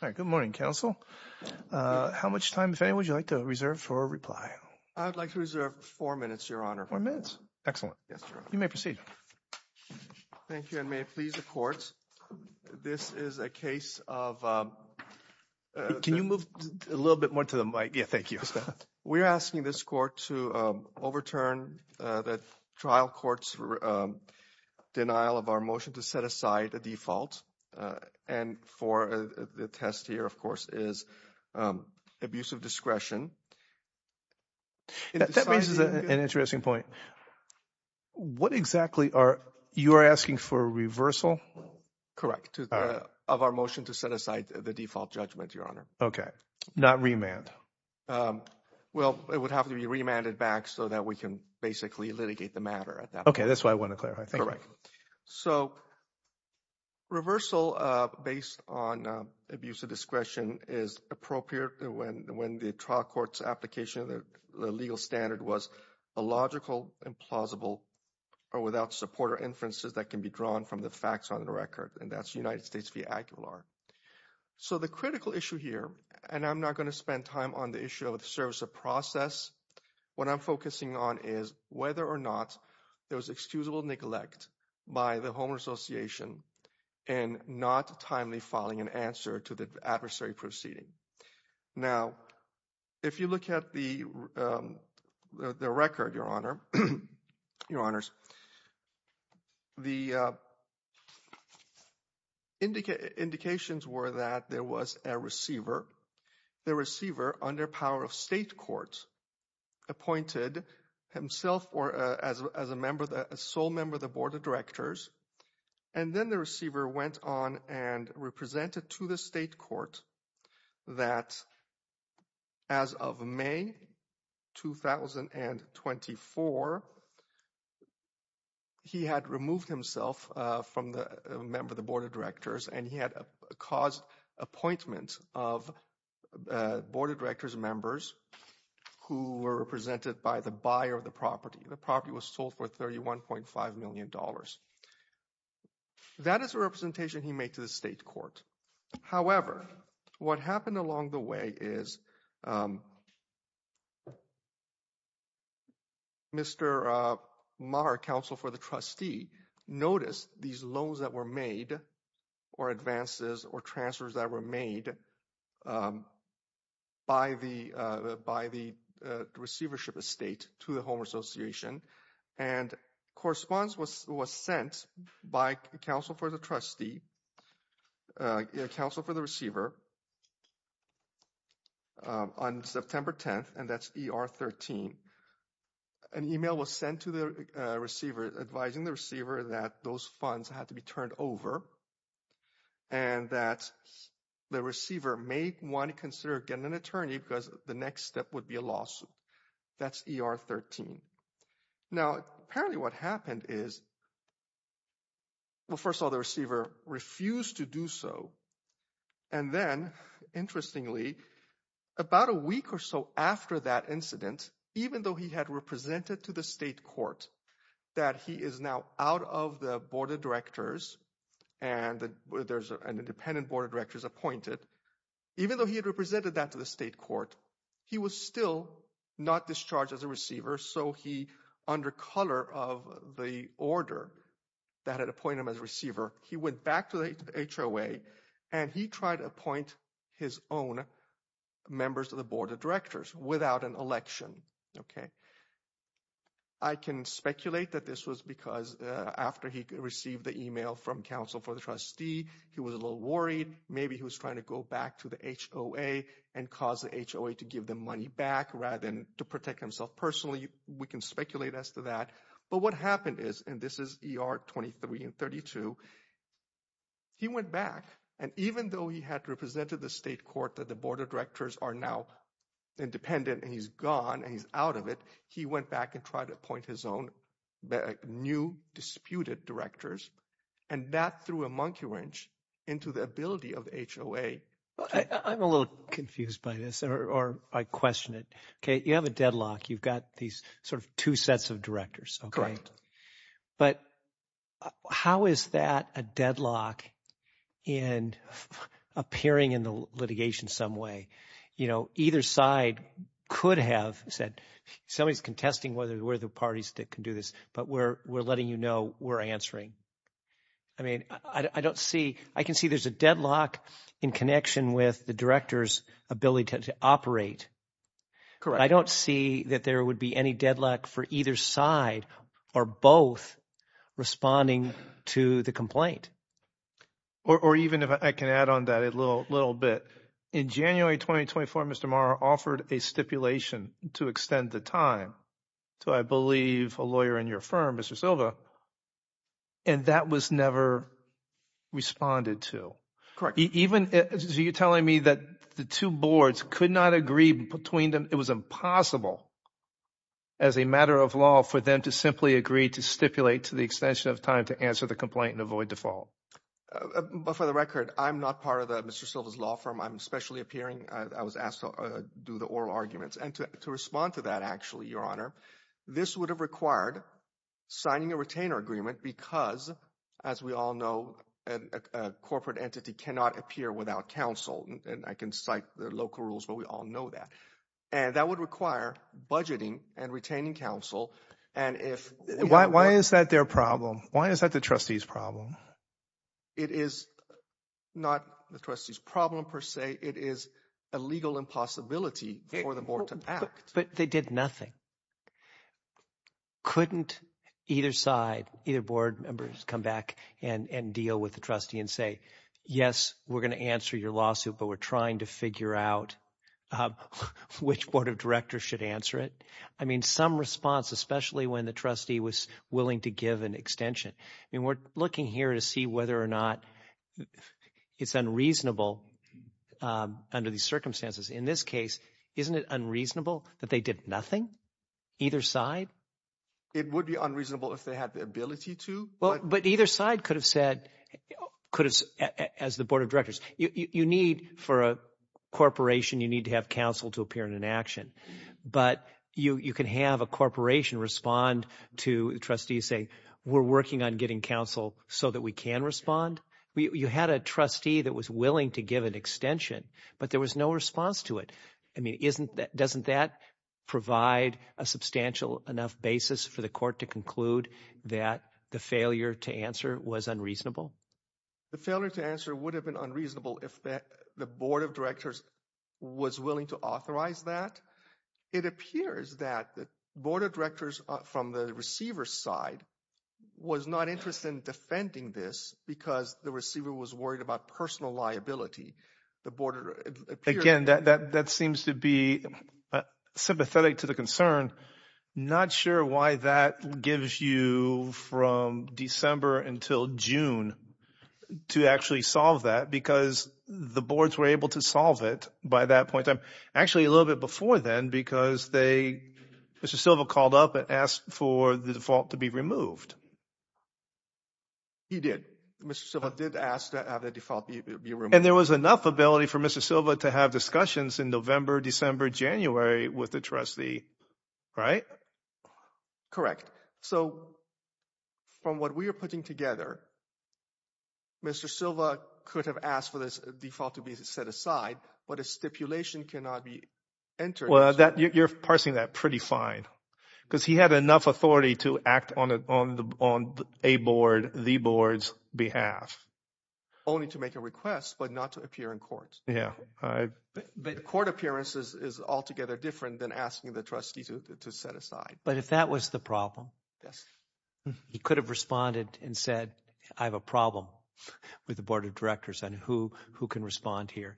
Good morning, counsel. How much time, if any, would you like to reserve for reply? I'd like to reserve four minutes, Your Honor. Four minutes? Excellent. You may proceed. Thank you, and may it please the courts, this is a case of... Can you move a little bit more to the mic? Yeah, thank you. We're asking this court to overturn the trial court's denial of our motion to set aside a default and for the test here, of course, is abuse of discretion. That raises an interesting point. What exactly are you asking for reversal? Correct, of our motion to set aside the default judgment, Your Honor. Okay, not remand? Well, it would have to be remanded back so that we can basically litigate the matter at that point. Okay, that's what I want to clarify. Thank you. So reversal based on abuse of discretion is appropriate when the trial court's application of the legal standard was illogical, implausible, or without support or inferences that can be drawn from the facts on the record, and that's United States v. Aguilar. So the critical issue here, and I'm not going to spend time on the issue of the service of process, what I'm focusing on is whether or not there was excusable neglect by the home association and not timely filing an answer to the adversary proceeding. Now, if you look at the record, Your Honors, the indications were that there was a receiver. The receiver, under power of state court, appointed himself as a sole member of the Board of Directors, and then the receiver went on and represented to the state court that as of May 2024, he had removed himself from the member of the Board of Directors, and he had caused appointment of Board of Directors members who were represented by the buyer of the property. The property was sold for $31.5 million. That is a representation he made to the state court. However, what happened was that Mr. Maher, counsel for the trustee, noticed these loans that were made or advances or transfers that were made by the receivership estate to the home association, and correspondence was sent by counsel for the trustee, counsel for the receiver, on September 10th, and that's ER 13, an email was sent to the receiver advising the receiver that those funds had to be turned over and that the receiver may want to consider getting an attorney because the next step would be a lawsuit. That's ER 13. Now, apparently what happened is, well, first of all, the receiver refused to do so, and then, interestingly, about a week or so after that incident, even though he had represented to the state court that he is now out of the Board of Directors and there's an independent Board of Directors appointed, even though he had represented that to the state court, he was still not discharged as a receiver, so he, under color of the order that had appointed him as a receiver, he went back to the HOA and he tried to appoint his own members of the Board of Directors without an election, okay? I can speculate that this was because after he received the email from counsel for the trustee, he was a little worried, maybe he was trying to go back to the HOA and cause the HOA to give the money back rather than to protect himself personally. We can speculate as to that, but what happened is, and this is ER 23 and 32, he went back and even though he had represented the state court that the Board of Directors are now independent and he's gone and he's out of it, he went back and tried to appoint his own new disputed directors and that threw a monkey wrench into the ability of HOA. I'm a little confused by this or I question it, okay? You have a deadlock, you've got these sort of two sets of directors, okay? But how is that a deadlock in appearing in the litigation some way? You know, either side could have said, somebody's contesting whether we're the parties that can do this, but we're letting you know we're answering. I mean, I don't see, I can see there's a deadlock in connection with the director's ability to operate. I don't see that there would be any deadlock for either side or both responding to the complaint. Or even if I can add on that a little bit, in January 2024, Mr. Maher offered a stipulation to extend the time to, I believe, a lawyer in your firm, Mr. Silva, and that was never responded to. Correct. Even, so you're telling me that the two boards could not agree between them? It was impossible as a matter of law for them to simply agree to stipulate to the extension of time to answer the complaint and avoid default. But for the record, I'm not part of Mr. Silva's law firm. I'm especially appearing, I was asked to do the oral arguments. And to respond to that, actually, Your Honor, this would have required signing a retainer agreement because, as we all know, a corporate entity cannot appear without counsel. And I can cite the local rules, but we all know that. And that would require budgeting and retaining counsel. Why is that their problem? Why is that the trustee's problem? It is not the trustee's problem, per se. It is a legal impossibility for the board to act. But they did nothing. Couldn't either side, either board members, come back and deal with the trustee and say, yes, we're going to answer your lawsuit, but we're trying to figure out which board of directors should answer it? I mean, some response, especially when the trustee was willing to give an extension. I mean, we're looking here to see whether or not it's unreasonable under these circumstances. In this case, isn't it unreasonable that they did nothing, either side? It would be unreasonable if they had the ability to. But either side could have said, as the board of directors, you need for a corporation, you need to have counsel to appear in an action. But you can have a corporation respond to the trustee and say, we're working on getting counsel so that we can respond. You had a trustee that was willing to give an extension, but there was no response to it. I mean, doesn't that provide a substantial enough basis for the board to conclude that the failure to answer was unreasonable? The failure to answer would have been unreasonable if the board of directors was willing to authorize that. It appears that the board of directors from the receiver's side was not interested in defending this because the receiver was worried about personal liability. The board appeared... Again, that seems to be sympathetic to the concern. Not sure why that gives you from December until June to actually solve that because the boards were able to solve it by that point. Actually, a little bit before then because Mr. Silva called up and asked for the default to be removed. He did. Mr. Silva did ask that the default be removed. There was enough ability for Mr. Silva to have discussions in November, December, January with the trustee, right? Correct. So from what we are putting together, Mr. Silva could have asked for this default to be set aside, but a stipulation cannot be entered. You're parsing that pretty fine because he had enough authority to act on a board, the board's staff, only to make a request, but not to appear in court. Yeah. Court appearance is altogether different than asking the trustee to set aside. But if that was the problem, he could have responded and said, I have a problem with the board of directors and who can respond here.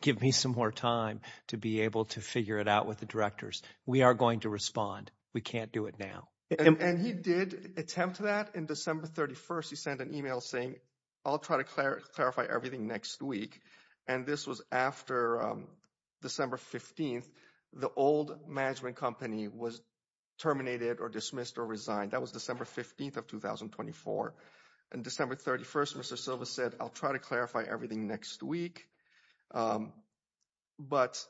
Give me some more time to be able to figure it out with the directors. We are going to respond. We can't do it now. And he did attempt that in December 31st. He said, I'll try to clarify everything next week. And this was after December 15th, the old management company was terminated or dismissed or resigned. That was December 15th of 2024. And December 31st, Mr. Silva said, I'll try to clarify everything next week. But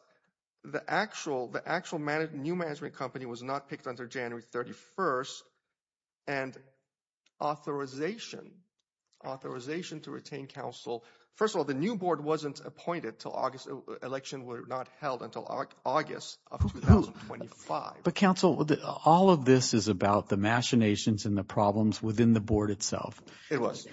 the actual, the actual new management company was not picked until January 31st. And authorization, authorization to retain counsel. First of all, the new board wasn't appointed till August. Election were not held until August of 2025. But counsel, all of this is about the machinations and the problems within the board itself. It was.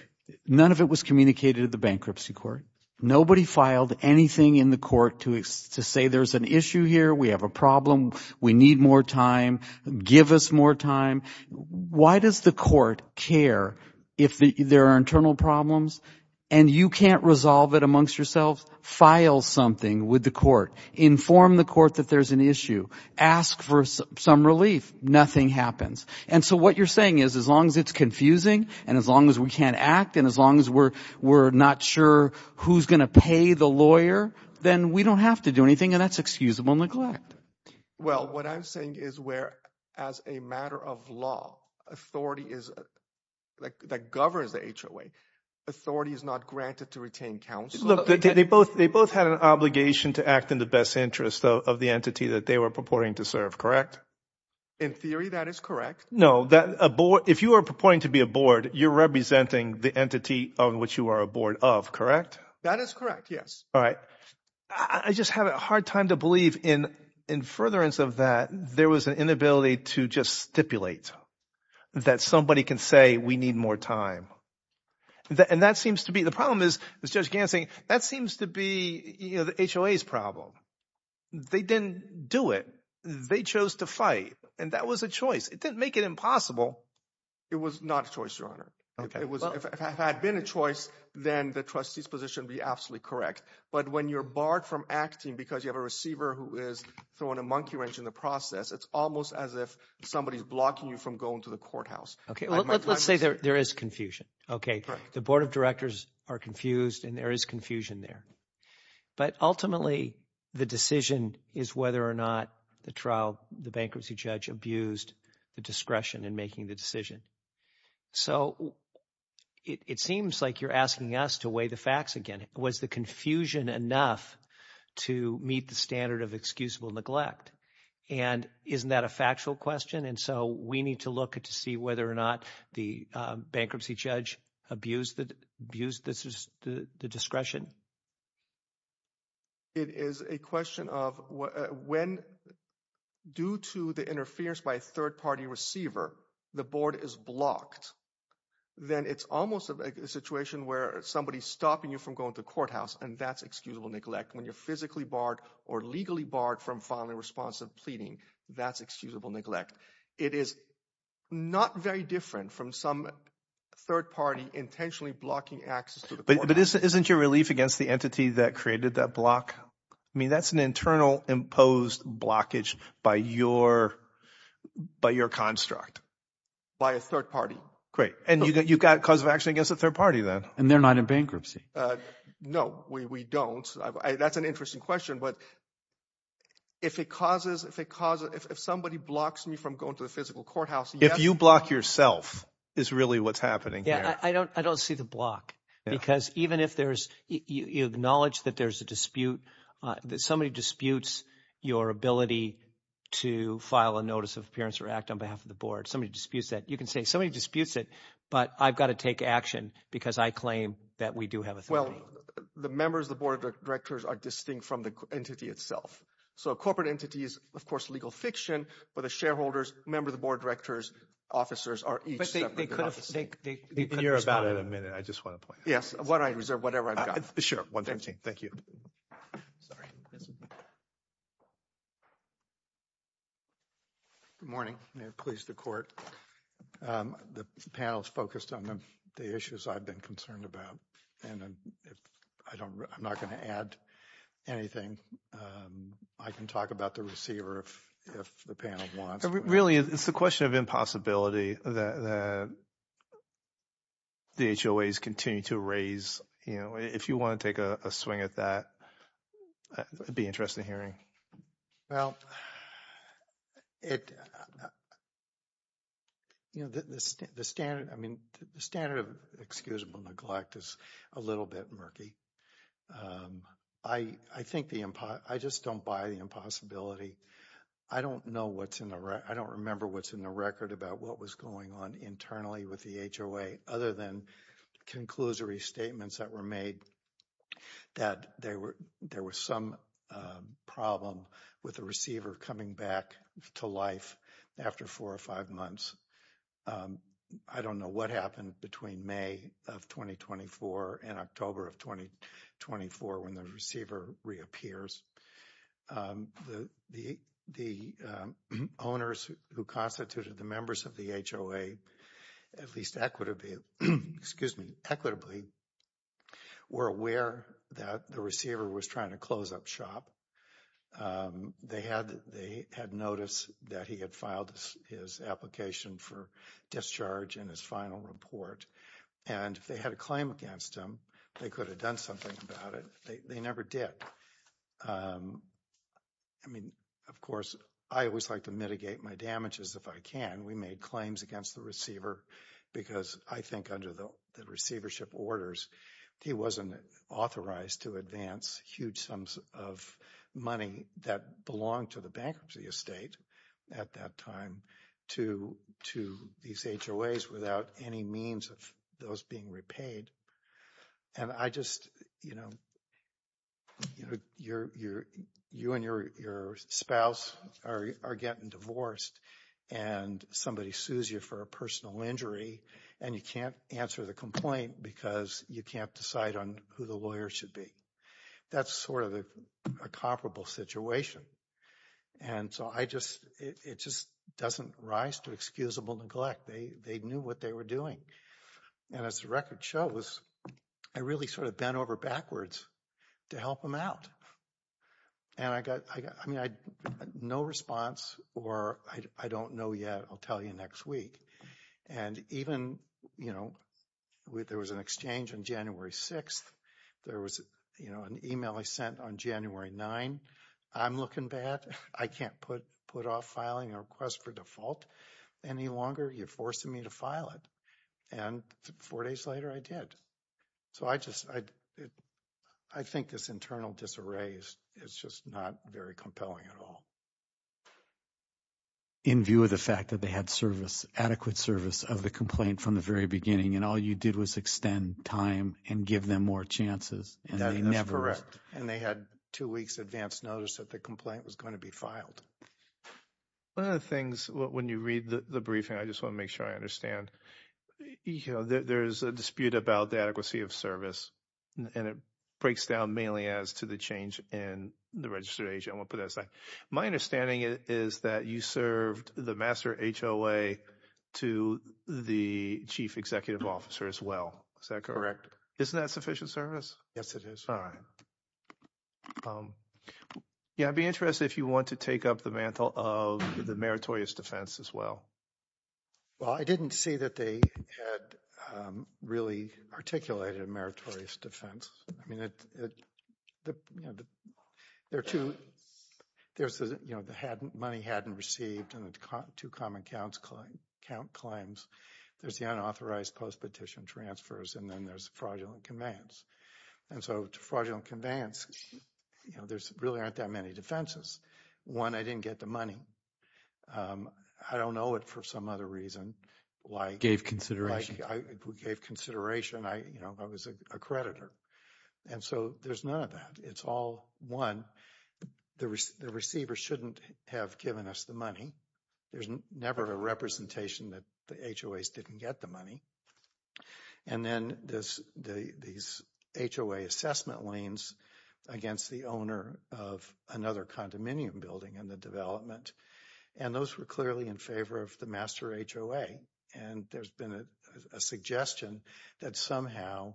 None of it was communicated to the bankruptcy court. Nobody filed anything in the court to say there's an issue here. We have a problem. We need more time. Give us more time. Why does the court care if there are internal problems and you can't resolve it amongst yourself? File something with the court. Inform the court that there's an issue. Ask for some relief. Nothing happens. And so what you're saying is as long as it's confusing and as long as we can't act and as long as we're not sure who's going to pay the lawyer, then we don't have to do anything. And that's excusable neglect. Well, what I'm saying is where as a matter of law, authority is that governs the HOA. Authority is not granted to retain counsel. They both they both had an obligation to act in the best interest of the entity that they were purporting to serve, correct? In theory, that is correct. No, that if you are purporting to be a board, you're representing the entity on which you are a board of, correct? That is correct. Yes. All right. I just have a hard time to believe in furtherance of that, there was an inability to just stipulate that somebody can say, we need more time. And that seems to be the problem is, as Judge Gansing, that seems to be the HOA's problem. They didn't do it. They chose to fight. And that was a choice. It didn't make it impossible. It was not a choice, Your Honor. If it had been a choice, then the trustee's position would be absolutely correct. But when you're barred from acting because you have a monkey wrench in the process, it's almost as if somebody is blocking you from going to the courthouse. Okay. Let's say there is confusion. Okay. The board of directors are confused and there is confusion there. But ultimately, the decision is whether or not the trial, the bankruptcy judge abused the discretion in making the decision. So it seems like you're asking us to weigh the facts again. Was the confusion enough to meet the standard of excusable neglect? And isn't that a factual question? And so we need to look to see whether or not the bankruptcy judge abused the discretion. It is a question of when, due to the interference by a third party receiver, the board is blocked, then it's almost a situation where somebody's stopping you from going to the courthouse. And that's excusable neglect. When you're physically barred or legally barred from filing responsive pleading, that's excusable neglect. It is not very different from some third party intentionally blocking access to the courthouse. But isn't your relief against the entity that created that block? I mean, that's an internal imposed blockage by your construct. By a third party. Great. And you've got cause of against a third party then. And they're not in bankruptcy. No, we don't. That's an interesting question. But. If it causes if it causes if somebody blocks me from going to the physical courthouse, if you block yourself is really what's happening. Yeah, I don't I don't see the block because even if there's the knowledge that there's a dispute, that somebody disputes your ability to file a notice of appearance or act on behalf of the board, somebody disputes that you can say somebody disputes it. But I've got to take action because I claim that we do have. Well, the members of the board of directors are distinct from the entity itself. So corporate entities, of course, legal fiction for the shareholders, member of the board, directors, officers are. You're about in a minute. I just want to point. Yes. What I reserve, whatever I'm sure. Thank you. Sorry. Good morning. Please, the court. The panel is focused on the issues I've been concerned about. And I don't I'm not going to add anything. I can talk about the receiver if the panel wants. Really, it's the question of impossibility that. The. The H.O.A.'s continue to raise, you know, if you want to take a swing at that, it'd be interesting hearing. Well, it. You know, the standard I mean, the standard of excusable neglect is a little bit murky. I, I think the I just don't buy the impossibility. I don't know what's in the right. I don't remember what's in the record about what was going on internally with the H.O.A. other than conclusory statements that were made that there were there was some problem with the receiver coming back to life after four or five months. I don't know what happened between May of 2024 and October of 2024 when the receiver reappears. The the the owners who constituted the members of the H.O.A. at least equitably excuse me, equitably were aware that the receiver was trying to close up shop. They had they had noticed that he had filed his application for discharge in his final report. And if they had a claim against him, they could have done something about it. They never did. I mean, of course, I always like to mitigate my damages if I can. We made claims against the receiver because I think under the receivership orders, he wasn't authorized to advance huge sums of money that belonged to the bankruptcy estate at that time to these H.O.A.s without any means of those being repaid. And I just, you know, you and your spouse are getting divorced and somebody sues you for a personal injury and you can't answer the complaint because you can't decide on who the lawyer should be. That's sort of a comparable situation. And so I just it just doesn't rise to excusable neglect. They knew what they were doing. And as the record shows, I really sort of bent over backwards to help them out. And I got I mean, I had no response or I don't know yet. I'll tell you next week. And even, you know, with there was an exchange on January 6th, there was, you know, an email I sent on January 9. I'm looking bad. I can't put put off filing a request for default any longer. You're forcing me to file it. And four days later, I did. So I just I think this internal disarray is it's just not very compelling at all. In view of the fact that they had service, adequate service of the complaint from the very beginning and all you did was extend time and give them more chances. And that is correct. And they had two weeks advance notice that the complaint was going to be filed. One of the things when you read the briefing, I just want to make sure I understand, you know, there is a dispute about the adequacy of service and it breaks down mainly as to the change in the registration. My understanding is that you served the master HOA to the chief executive officer as well. Is that correct? Isn't that sufficient service? Yes, it is. All right. Yeah, I'd be interested if you want to take up the mantle of the meritorious defense as well. Well, I didn't see that they had really articulated a meritorious defense. I mean, there are two, there's the, you know, the money hadn't received and the two common account claims. There's the unauthorized post-petition transfers and then there's fraudulent conveyance. And so to fraudulent conveyance, you know, there's really aren't that many defenses. One, I didn't get the money. I don't know it for some other reason, like gave consideration. I, you know, I was a creditor. And so there's none of that. It's all one. The receiver shouldn't have given us the money. There's never a representation that the HOAs didn't get the money. And then there's these HOA assessment liens against the owner of another condominium building in the development. And those were clearly in favor of the master HOA. And there's been a suggestion that somehow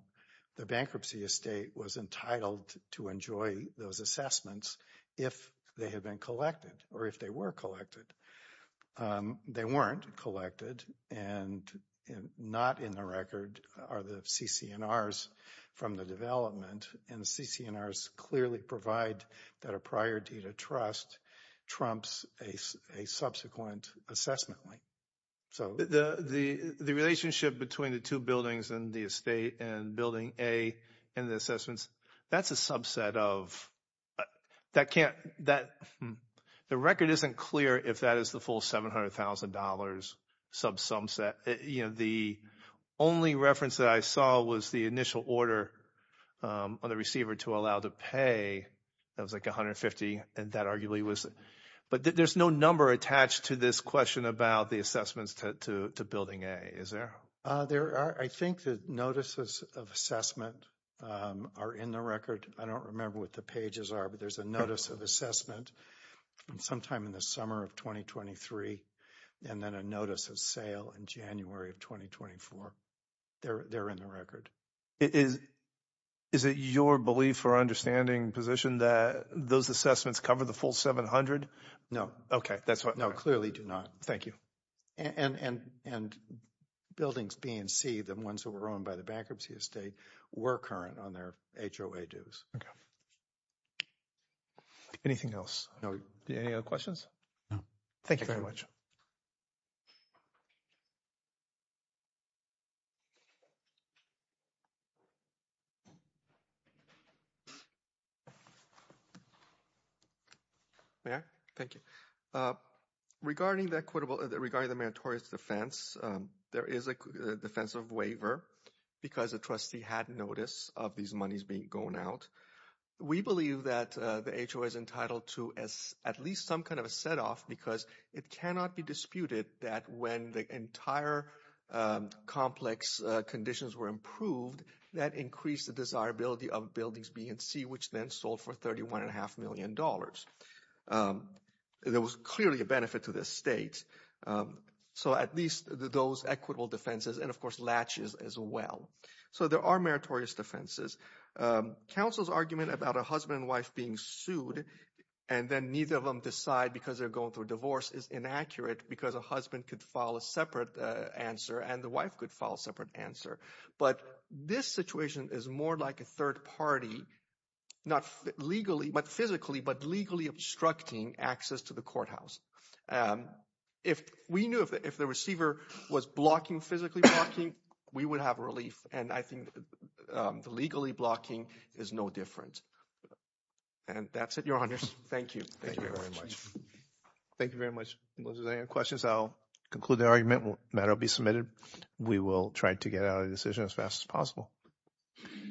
the bankruptcy estate was entitled to enjoy those assessments if they had been collected or if they were collected. They weren't collected and not in the record are the CCNRs from the development. And the CCNRs clearly provide that a priority to trust trumps a subsequent assessment lien. So the relationship between the two buildings and the estate and building A and the assessments, that's a subset of that can't that the record isn't clear if that is the full $700,000 subsum set. You know, the only reference that I saw was the initial order on the receiver to allow the pay. That was like $150,000. And that arguably was, but there's no number attached to this question about the to building A. Is there? There are, I think the notices of assessment are in the record. I don't remember what the pages are, but there's a notice of assessment sometime in the summer of 2023. And then a notice of sale in January of 2024. They're in the record. Is it your belief or understanding position that those assessments cover the full $700,000? No. Okay. That's what clearly do not. Thank you. And buildings B and C, the ones that were owned by the bankruptcy estate were current on their HOA dues. Okay. Anything else? No. Any other questions? No. Thank you very much. May I? Thank you. Regarding the equitable, regarding the meritorious defense, there is a defensive waiver because the trustee had notice of these monies being going out. We believe that HOA is entitled to at least some kind of a set off because it cannot be disputed that when the entire complex conditions were improved, that increased the desirability of buildings B and C, which then sold for $31.5 million. There was clearly a benefit to this state. So at least those equitable defenses and of course latches as well. So there are meritorious defenses. Counsel's argument about a husband and wife being sued and then neither of them decide because they're going through a divorce is inaccurate because a husband could file a separate answer and the wife could file a separate answer. But this situation is more like a third party, not legally, but physically, but legally obstructing access to the courthouse. If we knew if the receiver was blocking, physically blocking, we would have relief. And I think the legally blocking is no different. And that's it, Your Honors. Thank you. Thank you very much. If there's any questions, I'll conclude the argument. Matter will be submitted. We will try to get out of the decision as fast as possible.